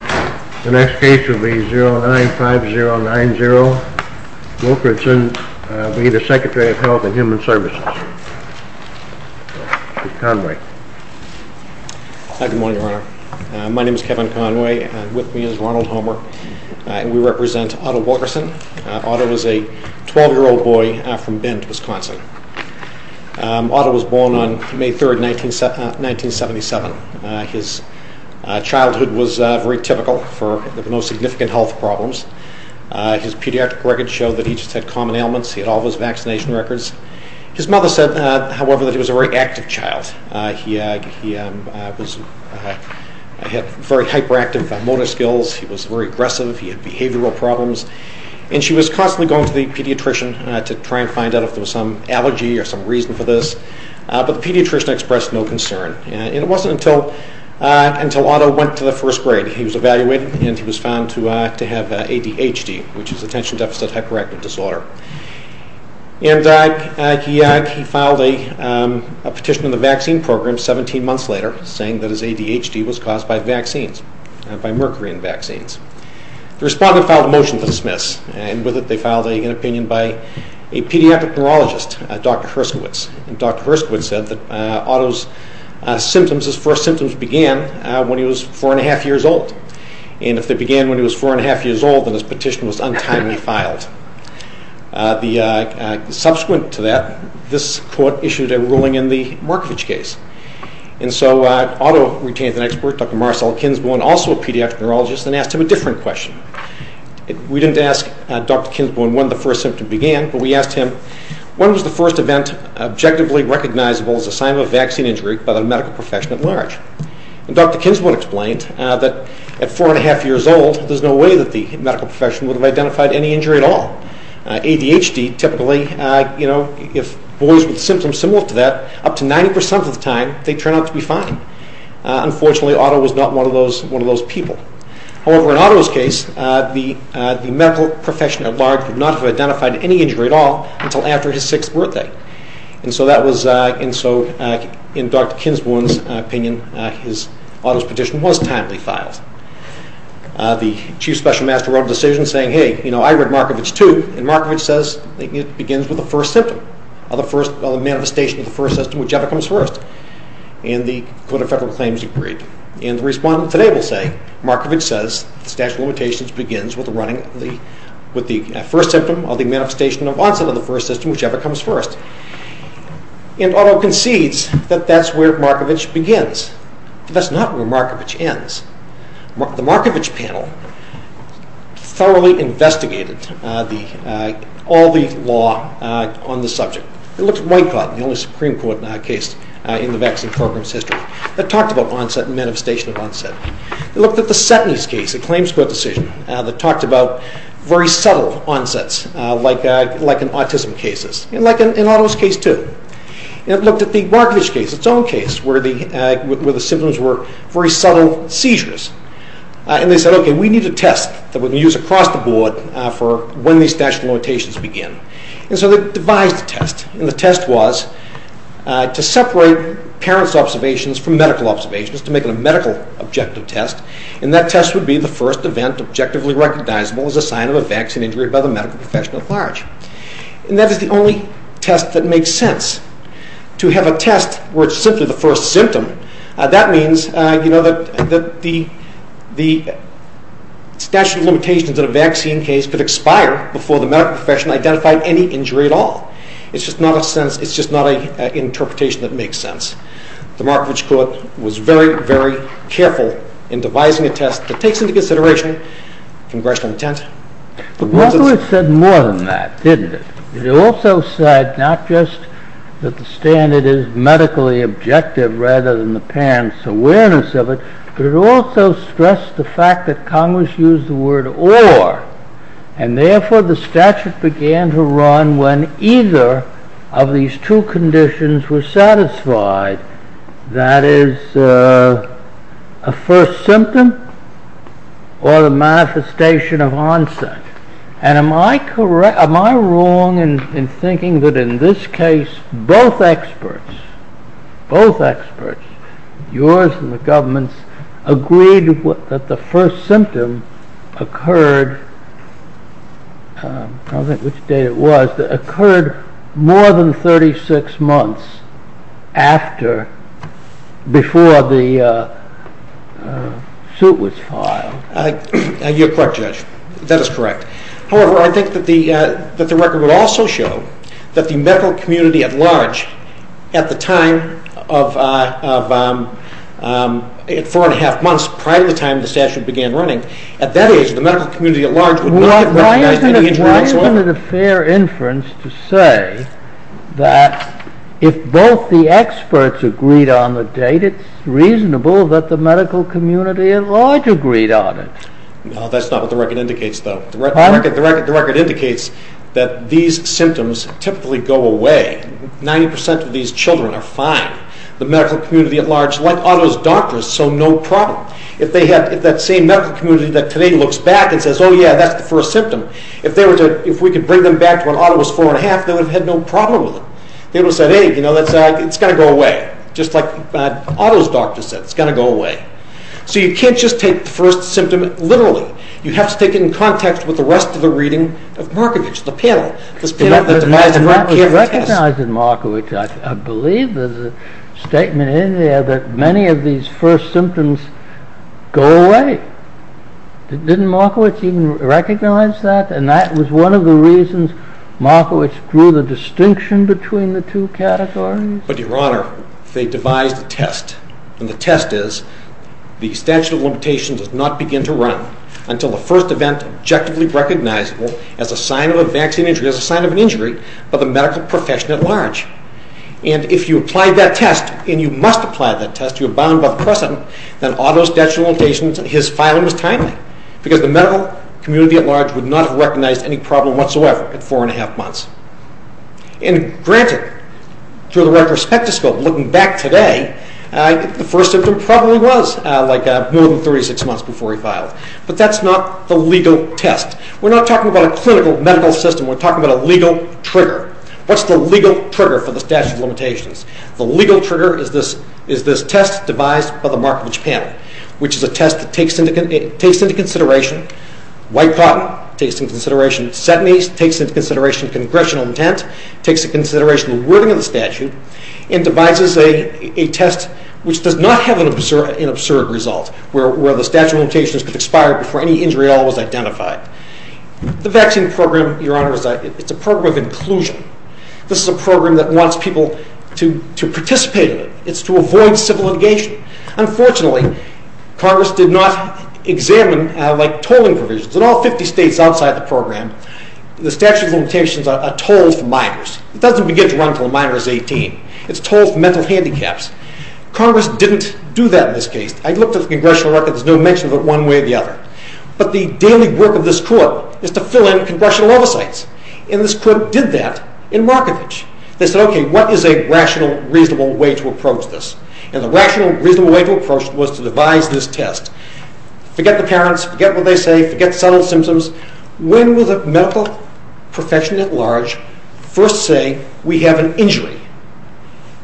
The next case will be 095090 Wilkerson v. the Secretary of Health and Human Services, Mr. Conway. Good morning, Your Honor. My name is Kevin Conway and with me is Ronald Homer. We represent Otto Wilkerson. Otto was a 12-year-old boy from Bend, Wisconsin. Otto was born on May 3, 1977. His childhood was very typical for no significant health problems. His pediatric records show that he just had common ailments. He had all of his vaccination records. His mother said, however, that he was a very active child. He had very hyperactive motor skills. He was very aggressive. He had behavioral problems. She was constantly going to the pediatrician to try and find out if there was some allergy or some reason for this. The pediatrician expressed no concern. It wasn't until Otto went to the first grade. He was evaluated and he was found to have ADHD, which is attention deficit hyperactive disorder. He filed a petition in the vaccine program 17 months later saying that his ADHD was caused by mercury in vaccines. The respondent filed a motion to dismiss. With it, they filed an opinion by a pediatric neurologist, Dr. Herskowitz. Dr. Herskowitz said that Otto's first symptoms began when he was four and a half years old. If they began when he was four and a half years old, then his petition was untimely filed. Subsequent to that, this court issued a ruling in the Markovich case. Otto retained an expert, Dr. Marcel Kinsbone, also a pediatric neurologist, and asked him a different question. We didn't ask Dr. Kinsbone when the first symptom began, but we asked him, when was the first event objectively recognizable as a sign of a vaccine injury by the medical profession at large? Dr. Kinsbone explained that at four and a half years old, there's no way that the medical profession would have identified any injury at all. ADHD, typically, if boys with symptoms similar to that, up to 90% of the time, they turn out to be fine. Unfortunately, Otto was not one of those people. However, in Otto's case, the medical profession at large would not have identified any injury at all until after his sixth birthday. In Dr. Kinsbone's opinion, Otto's petition was timely filed. The Chief Special Master wrote a decision saying, hey, I read Markovich too, and Markovich says it begins with the first symptom, or the manifestation of the first symptom, whichever comes first. And the Code of Federal Claims agreed. And the respondent today will say, Markovich says the statute of limitations begins with the first symptom, or the manifestation of onset of the first symptom, whichever comes first. And Otto concedes that that's where Markovich begins. But that's not where Markovich ends. The Markovich panel thoroughly investigated all the law on the subject. It looked at White Cod, the only Supreme Court case in the vaccine program's history, that talked about onset and manifestation of onset. It looked at the Setney's case, a claims court decision, that talked about very subtle onsets, like in autism cases, and like in Otto's case too. It looked at the Markovich case, its own case, where the symptoms were very subtle seizures. And they said, okay, we need a test that we can use across the board for when these statute of limitations begin. And so they devised a test. And the test was to separate parents' observations from medical observations, to make it a medical objective test. And that test would be the first event objectively recognizable as a sign of a vaccine injury by the medical professional at large. And that is the only test that makes sense. To have a test where it's simply the first symptom, that means that the statute of limitations in a vaccine case could expire before the medical professional identified any injury at all. It's just not an interpretation that makes sense. The Markovich court was very, very careful in devising a test that takes into consideration congressional intent. Markovich said more than that, didn't it? It also said not just that the standard is medically objective rather than the parent's awareness of it, but it also stressed the fact that Congress used the word or. And therefore the statute began to run when either of these two conditions were satisfied. That is a first symptom or the manifestation of onset. Am I wrong in thinking that in this case both experts, yours and the government's, agreed that the first symptom occurred more than 36 months before the suit was filed? You're correct, Judge. That is correct. However, I think that the record would also show that the medical community at large at the time of four and a half months prior to the time the statute began running, at that age the medical community at large would not have recognized any injury whatsoever. Isn't it a fair inference to say that if both the experts agreed on the date, it's reasonable that the medical community at large agreed on it? No, that's not what the record indicates, though. The record indicates that these symptoms typically go away. Ninety percent of these children are fine. The medical community at large, like all those doctors, so no problem. If that same medical community that today looks back and says, oh yeah, that's the first symptom, if we could bring them back to when Otto was four and a half, they would have had no problem with it. They would have said, hey, you know, it's going to go away. Just like Otto's doctor said, it's going to go away. So you can't just take the first symptom literally. You have to take it in context with the rest of the reading of Markovitch, the panel. It was recognized in Markovitch. I believe there's a statement in there that many of these first symptoms go away. Didn't Markovitch even recognize that? And that was one of the reasons Markovitch drew the distinction between the two categories? But, Your Honor, they devised a test, and the test is the statute of limitations does not begin to run until the first event objectively recognizable as a sign of a vaccine injury, as a sign of an injury by the medical profession at large. And if you apply that test, and you must apply that test, you're bound by precedent, then Otto's statute of limitations, his filing was timely, because the medical community at large would not have recognized any problem whatsoever at four and a half months. And granted, through the retrospective scope, looking back today, the first symptom probably was like more than 36 months before he filed. But that's not the legal test. We're not talking about a clinical medical system. We're talking about a legal trigger. What's the legal trigger for the statute of limitations? The legal trigger is this test devised by the Markovitch panel, which is a test that takes into consideration white cotton, takes into consideration setanies, takes into consideration congressional intent, takes into consideration the wording of the statute, and devises a test which does not have an absurd result, where the statute of limitations could expire before any injury at all was identified. This is a program that wants people to participate in it. It's to avoid civil litigation. Unfortunately, Congress did not examine tolling provisions. In all 50 states outside the program, the statute of limitations are tolled for minors. It doesn't begin to run until a minor is 18. It's tolled for mental handicaps. Congress didn't do that in this case. I looked at the congressional record. There's no mention of it one way or the other. But the daily work of this court is to fill in congressional oversights. And this court did that in Markovitch. They said, okay, what is a rational, reasonable way to approach this? And the rational, reasonable way to approach it was to devise this test. Forget the parents, forget what they say, forget the subtle symptoms. When will the medical profession at large first say we have an injury?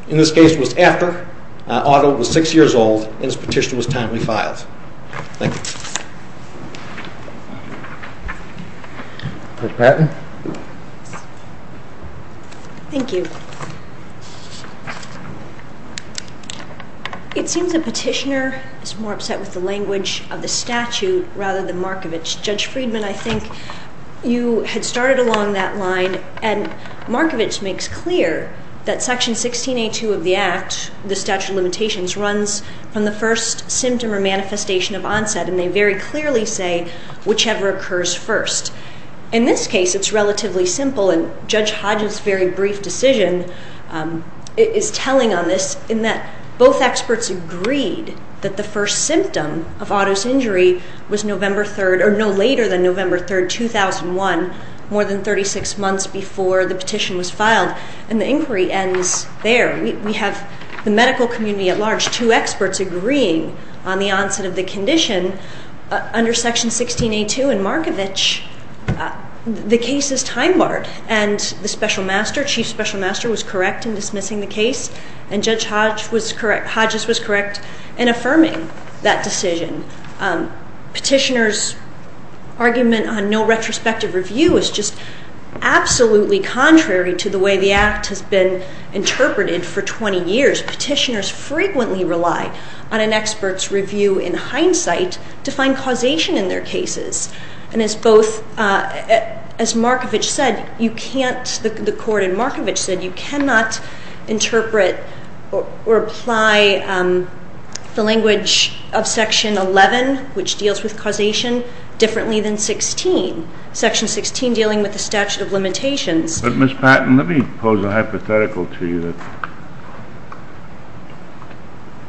And this case was after Otto was 6 years old and his petition was timely filed. Thank you. Judge Patton. Thank you. It seems the petitioner is more upset with the language of the statute rather than Markovitch. Judge Friedman, I think you had started along that line, and Markovitch makes clear that Section 16A.2 of the Act, the statute of limitations, runs from the first symptom or manifestation of onset, and they very clearly say whichever occurs first. In this case it's relatively simple, and Judge Hodges' very brief decision is telling on this in that both experts agreed that the first symptom of Otto's injury was November 3rd, or no later than November 3rd, 2001, more than 36 months before the petition was filed. And the inquiry ends there. We have the medical community at large, two experts agreeing on the onset of the condition. Under Section 16A.2 and Markovitch, the case is time-barred, and the special master, chief special master, was correct in dismissing the case, and Judge Hodges was correct in affirming that decision. Petitioner's argument on no retrospective review is just absolutely contrary to the way the Act has been interpreted for 20 years. Petitioners frequently rely on an expert's review in hindsight to find causation in their cases. And as both, as Markovitch said, you can't, the court in Markovitch said, you cannot interpret or apply the language of Section 11, which deals with causation, differently than Section 16, dealing with the statute of limitations. But, Ms. Patton, let me pose a hypothetical to you that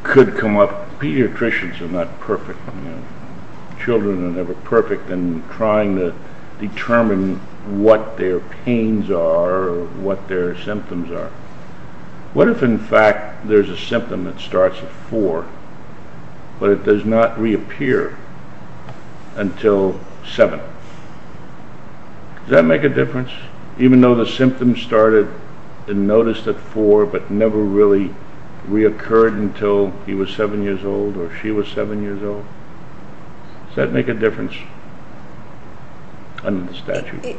could come up. Pediatricians are not perfect. Children are never perfect in trying to determine what their pains are or what their symptoms are. What if, in fact, there's a symptom that starts at 4 but it does not reappear until 7? Does that make a difference, even though the symptom started and noticed at 4 but never really reoccurred until he was 7 years old or she was 7 years old? Does that make a difference under the statute?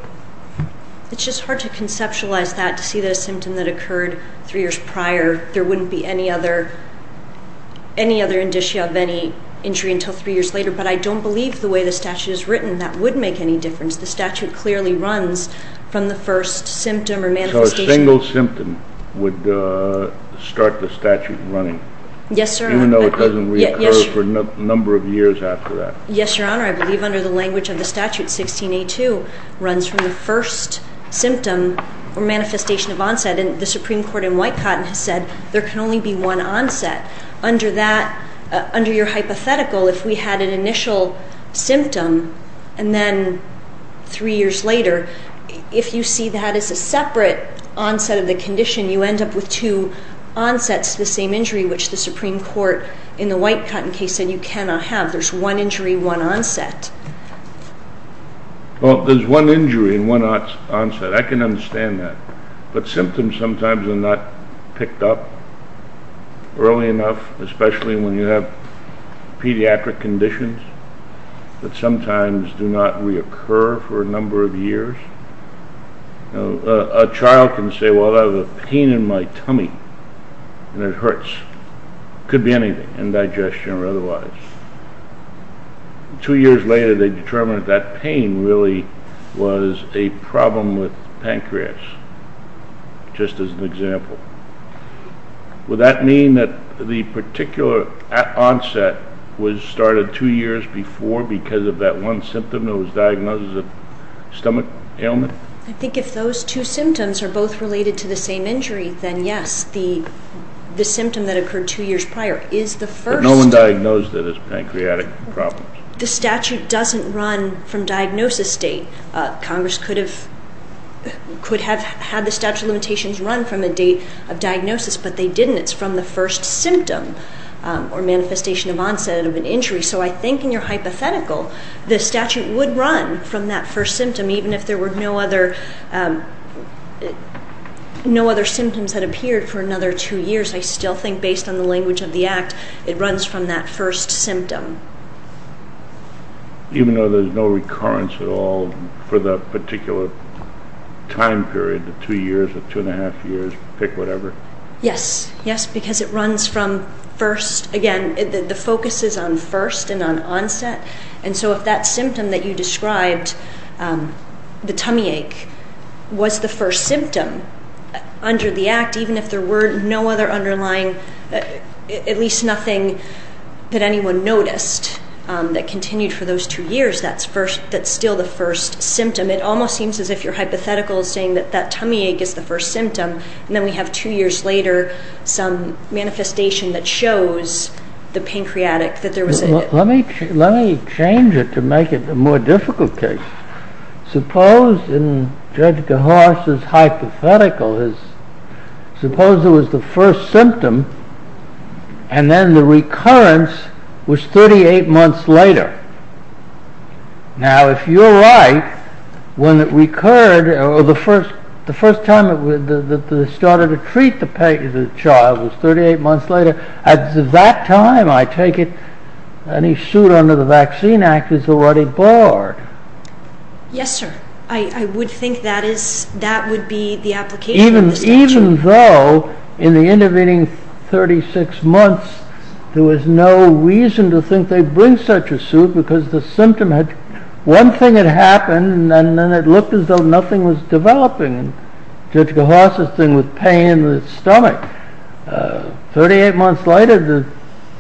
It's just hard to conceptualize that, to see the symptom that occurred 3 years prior. There wouldn't be any other indicia of any injury until 3 years later. But I don't believe the way the statute is written that would make any difference. The statute clearly runs from the first symptom or manifestation. So a single symptom would start the statute running? Yes, sir. Even though it doesn't reoccur for a number of years after that? Yes, Your Honor, I believe under the language of the statute, 16A2 runs from the first symptom or manifestation of onset. And the Supreme Court in White Cotton has said there can only be one onset. Under your hypothetical, if we had an initial symptom and then 3 years later, if you see that as a separate onset of the condition, you end up with two onsets of the same injury, which the Supreme Court in the White Cotton case said you cannot have. There's one injury, one onset. Well, there's one injury and one onset. I can understand that. But symptoms sometimes are not picked up early enough, especially when you have pediatric conditions that sometimes do not reoccur for a number of years. A child can say, well, I have a pain in my tummy and it hurts. It could be anything, indigestion or otherwise. Two years later they determined that pain really was a problem with pancreas, just as an example. Would that mean that the particular onset was started 2 years before because of that one symptom that was diagnosed as a stomach ailment? I think if those two symptoms are both related to the same injury, then yes, the symptom that occurred 2 years prior is the first. No one diagnosed it as pancreatic problems. The statute doesn't run from diagnosis date. Congress could have had the statute of limitations run from a date of diagnosis, but they didn't. It's from the first symptom or manifestation of onset of an injury. So I think in your hypothetical the statute would run from that first symptom even if there were no other symptoms that appeared for another 2 years. I still think, based on the language of the Act, it runs from that first symptom. Even though there's no recurrence at all for that particular time period, the 2 years or 2 1⁄2 years, pick whatever? Yes, yes, because it runs from first. Again, the focus is on first and on onset. So if that symptom that you described, the tummy ache, was the first symptom under the Act, even if there were no other underlying, at least nothing that anyone noticed that continued for those 2 years, that's still the first symptom. It almost seems as if your hypothetical is saying that that tummy ache is the first symptom and then we have 2 years later some manifestation that shows the pancreatic. Let me change it to make it a more difficult case. Suppose, in Judge Gahosh's hypothetical, suppose it was the first symptom and then the recurrence was 38 months later. Now if you're right, when it recurred, the first time that they started to treat the child was 38 months later. At that time, I take it, any suit under the Vaccine Act is already barred. Yes, sir. I would think that would be the application of this statute. Even though, in the intervening 36 months, there was no reason to think they'd bring such a suit because the symptom had, one thing had happened and then it looked as though nothing was developing. Judge Gahosh's thing was pain in the stomach. 38 months later, the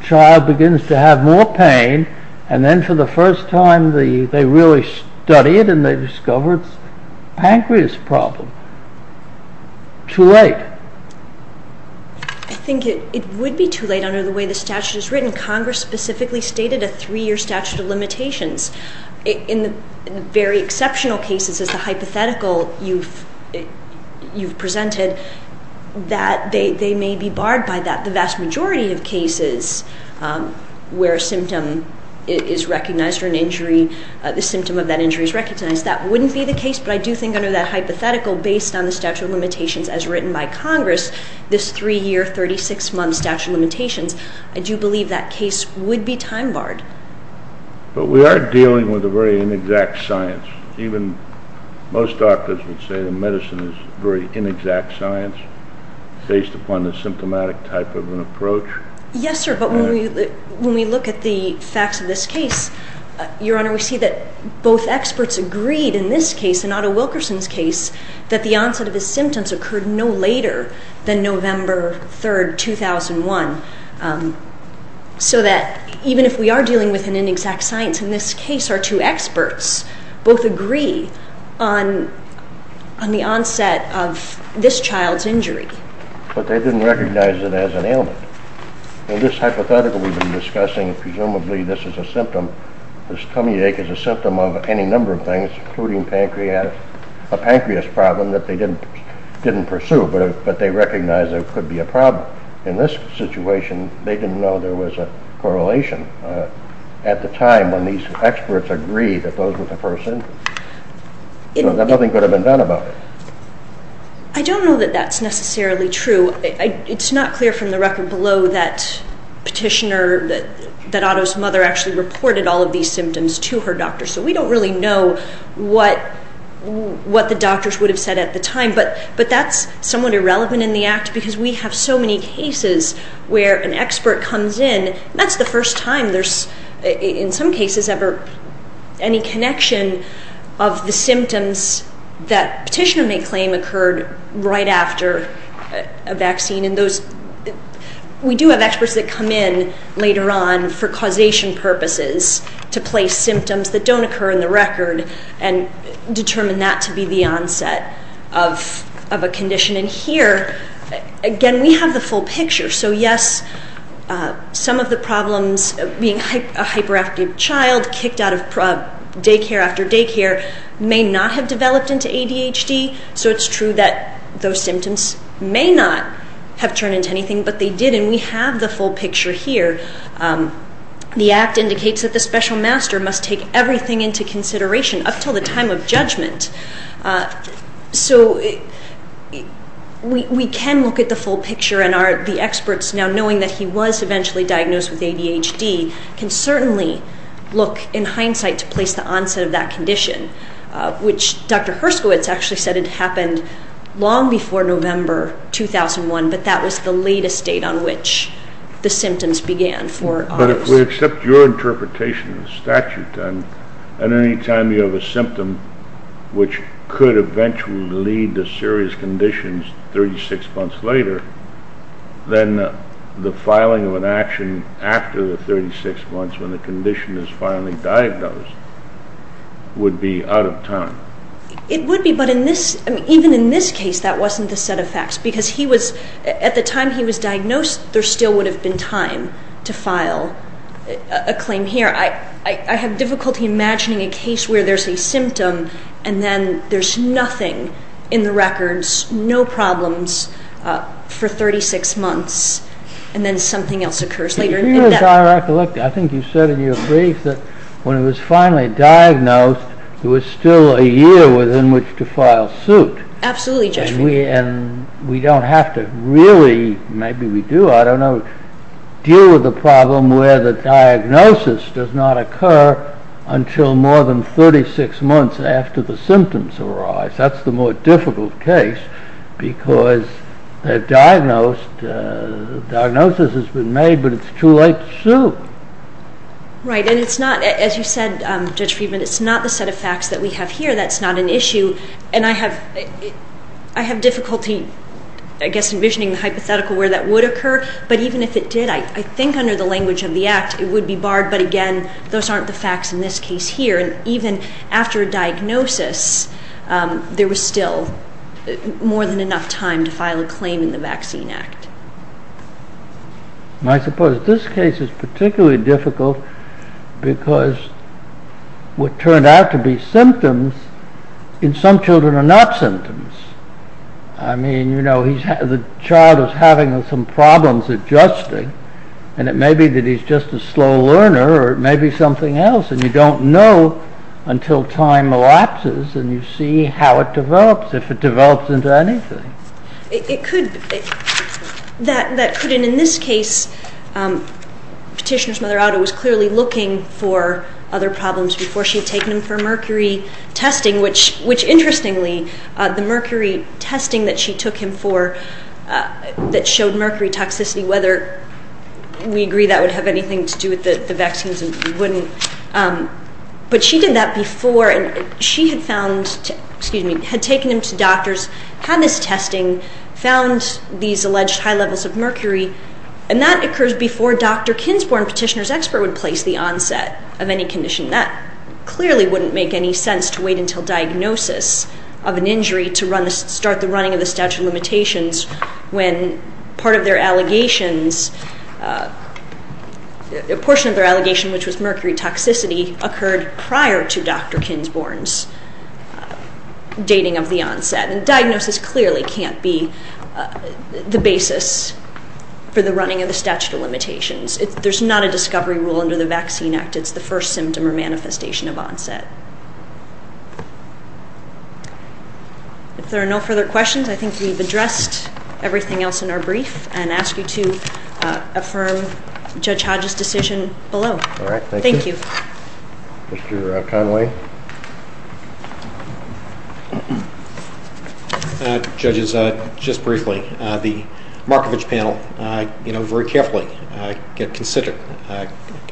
child begins to have more pain and then for the first time they really study it and they discover it's a pancreas problem. Too late. I think it would be too late under the way the statute is written. Congress specifically stated a 3-year statute of limitations. In the very exceptional cases, as the hypothetical you've presented, that they may be barred by that. The vast majority of cases where a symptom is recognized or an injury, the symptom of that injury is recognized, that wouldn't be the case. But I do think under that hypothetical, based on the statute of limitations as written by Congress, this 3-year, 36-month statute of limitations, I do believe that case would be time barred. But we are dealing with a very inexact science. Even most doctors would say that medicine is a very inexact science based upon the symptomatic type of an approach. Yes, sir, but when we look at the facts of this case, Your Honor, we see that both experts agreed in this case, in Otto Wilkerson's case, that the onset of his symptoms occurred no later than November 3, 2001. So that even if we are dealing with an inexact science, in this case our two experts both agree on the onset of this child's injury. But they didn't recognize it as an ailment. In this hypothetical we've been discussing, presumably this is a symptom, this tummy ache is a symptom of any number of things, including pancreatic, a pancreas problem that they didn't pursue, but they recognized there could be a problem. In this situation, they didn't know there was a correlation. At the time when these experts agreed that those were the first symptoms, nothing could have been done about it. I don't know that that's necessarily true. It's not clear from the record below that Petitioner, that Otto's mother, actually reported all of these symptoms to her doctor. So we don't really know what the doctors would have said at the time. But that's somewhat irrelevant in the act because we have so many cases where an expert comes in, and that's the first time there's, in some cases, ever any connection of the symptoms that Petitioner may claim occurred right after a vaccine. We do have experts that come in later on for causation purposes to place symptoms that don't occur in the record and determine that to be the onset of a condition. And here, again, we have the full picture. So yes, some of the problems, being a hyperactive child, kicked out of daycare after daycare, may not have developed into ADHD. So it's true that those symptoms may not have turned into anything, but they did. And we have the full picture here. The act indicates that the special master must take everything into consideration up until the time of judgment. So we can look at the full picture, and the experts, now knowing that he was eventually diagnosed with ADHD, can certainly look in hindsight to place the onset of that condition, which Dr. Herskowitz actually said it happened long before November 2001, but that was the latest date on which the symptoms began. But if we accept your interpretation of the statute, and any time you have a symptom which could eventually lead to serious conditions 36 months later, then the filing of an action after the 36 months when the condition is finally diagnosed would be out of time. It would be, but even in this case, that wasn't the set of facts, because at the time he was diagnosed, there still would have been time to file a claim here. I have difficulty imagining a case where there's a symptom, and then there's nothing in the records, no problems, for 36 months, and then something else occurs later. I think you said in your brief that when he was finally diagnosed, there was still a year within which to file suit. Absolutely, Judge Friedman. And we don't have to really, maybe we do, I don't know, deal with the problem where the diagnosis does not occur until more than 36 months after the symptoms arise. That's the more difficult case, because the diagnosis has been made, but it's too late to sue. Right, and it's not, as you said, Judge Friedman, it's not the set of facts that we have here that's not an issue, and I have difficulty, I guess, envisioning the hypothetical where that would occur, but even if it did, I think under the language of the Act, it would be barred, but again, those aren't the facts in this case here, and even after a diagnosis, there was still more than enough time to file a claim in the Vaccine Act. I suppose this case is particularly difficult because what turned out to be symptoms in some children are not symptoms. I mean, you know, the child is having some problems adjusting, and it may be that he's just a slow learner, or it may be something else, and you don't know until time elapses, and you see how it develops, if it develops into anything. It could, that could, and in this case, Petitioner's mother, Otto, was clearly looking for other problems before she had taken him for mercury testing, which interestingly, the mercury testing that she took him for that showed mercury toxicity, whether we agree that would have anything to do with the vaccines, we wouldn't, but she did that before, and she had found, excuse me, had taken him to doctors, had this testing, found these alleged high levels of mercury, and that occurs before Dr. Kinsborn, Petitioner's expert, would place the onset of any condition. That clearly wouldn't make any sense to wait until diagnosis of an injury to start the running of the statute of limitations when part of their allegations, a portion of their allegation, which was mercury toxicity, occurred prior to Dr. Kinsborn's dating of the onset, and diagnosis clearly can't be the basis for the running of the statute of limitations. There's not a discovery rule under the Vaccine Act. It's the first symptom or manifestation of onset. If there are no further questions, I think we've addressed everything else in our brief and ask you to affirm Judge Hodge's decision below. All right, thank you. Thank you. Mr. Conway. Judges, just briefly, the Markovich panel, you know, very carefully get considered.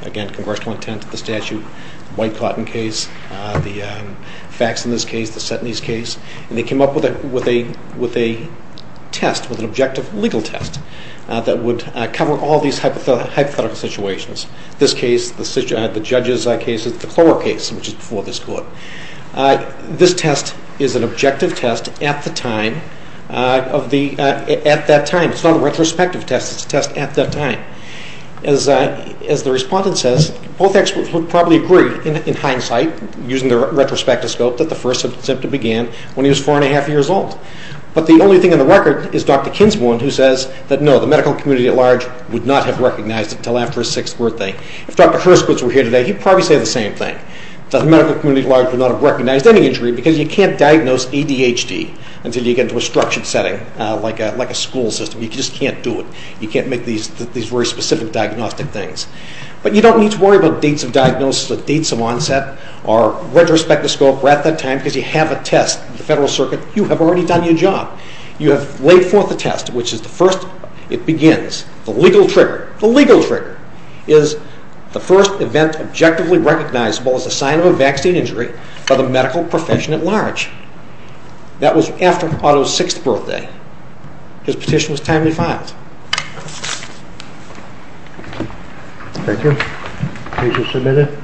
Again, congressional intent of the statute, the white cotton case, the facts in this case, the set in this case, and they came up with a test, with an objective legal test that would cover all these hypothetical situations. This case, the judges' case, the Clover case, which is before this court. This test is an objective test at that time. It's not a retrospective test. It's a test at that time. As the respondent says, both experts would probably agree in hindsight, using the retrospective scope, that the first symptom began when he was four and a half years old. But the only thing on the record is Dr. Kinsmore, who says that no, the medical community at large would not have recognized it until after his sixth birthday. If Dr. Herskowitz were here today, he'd probably say the same thing, that the medical community at large would not have recognized any injury because you can't diagnose ADHD until you get into a structured setting, like a school system. You just can't do it. You can't make these very specific diagnostic things. But you don't need to worry about dates of diagnosis, or dates of onset, or retrospective scope, or at that time, because you have a test in the federal circuit. You have already done your job. You have laid forth a test, which is the first, it begins, the legal trigger. The legal trigger is the first event objectively recognizable as a sign of a vaccine injury by the medical profession at large. That was after Otto's sixth birthday. His petition was timely filed. Thank you. Page is submitted.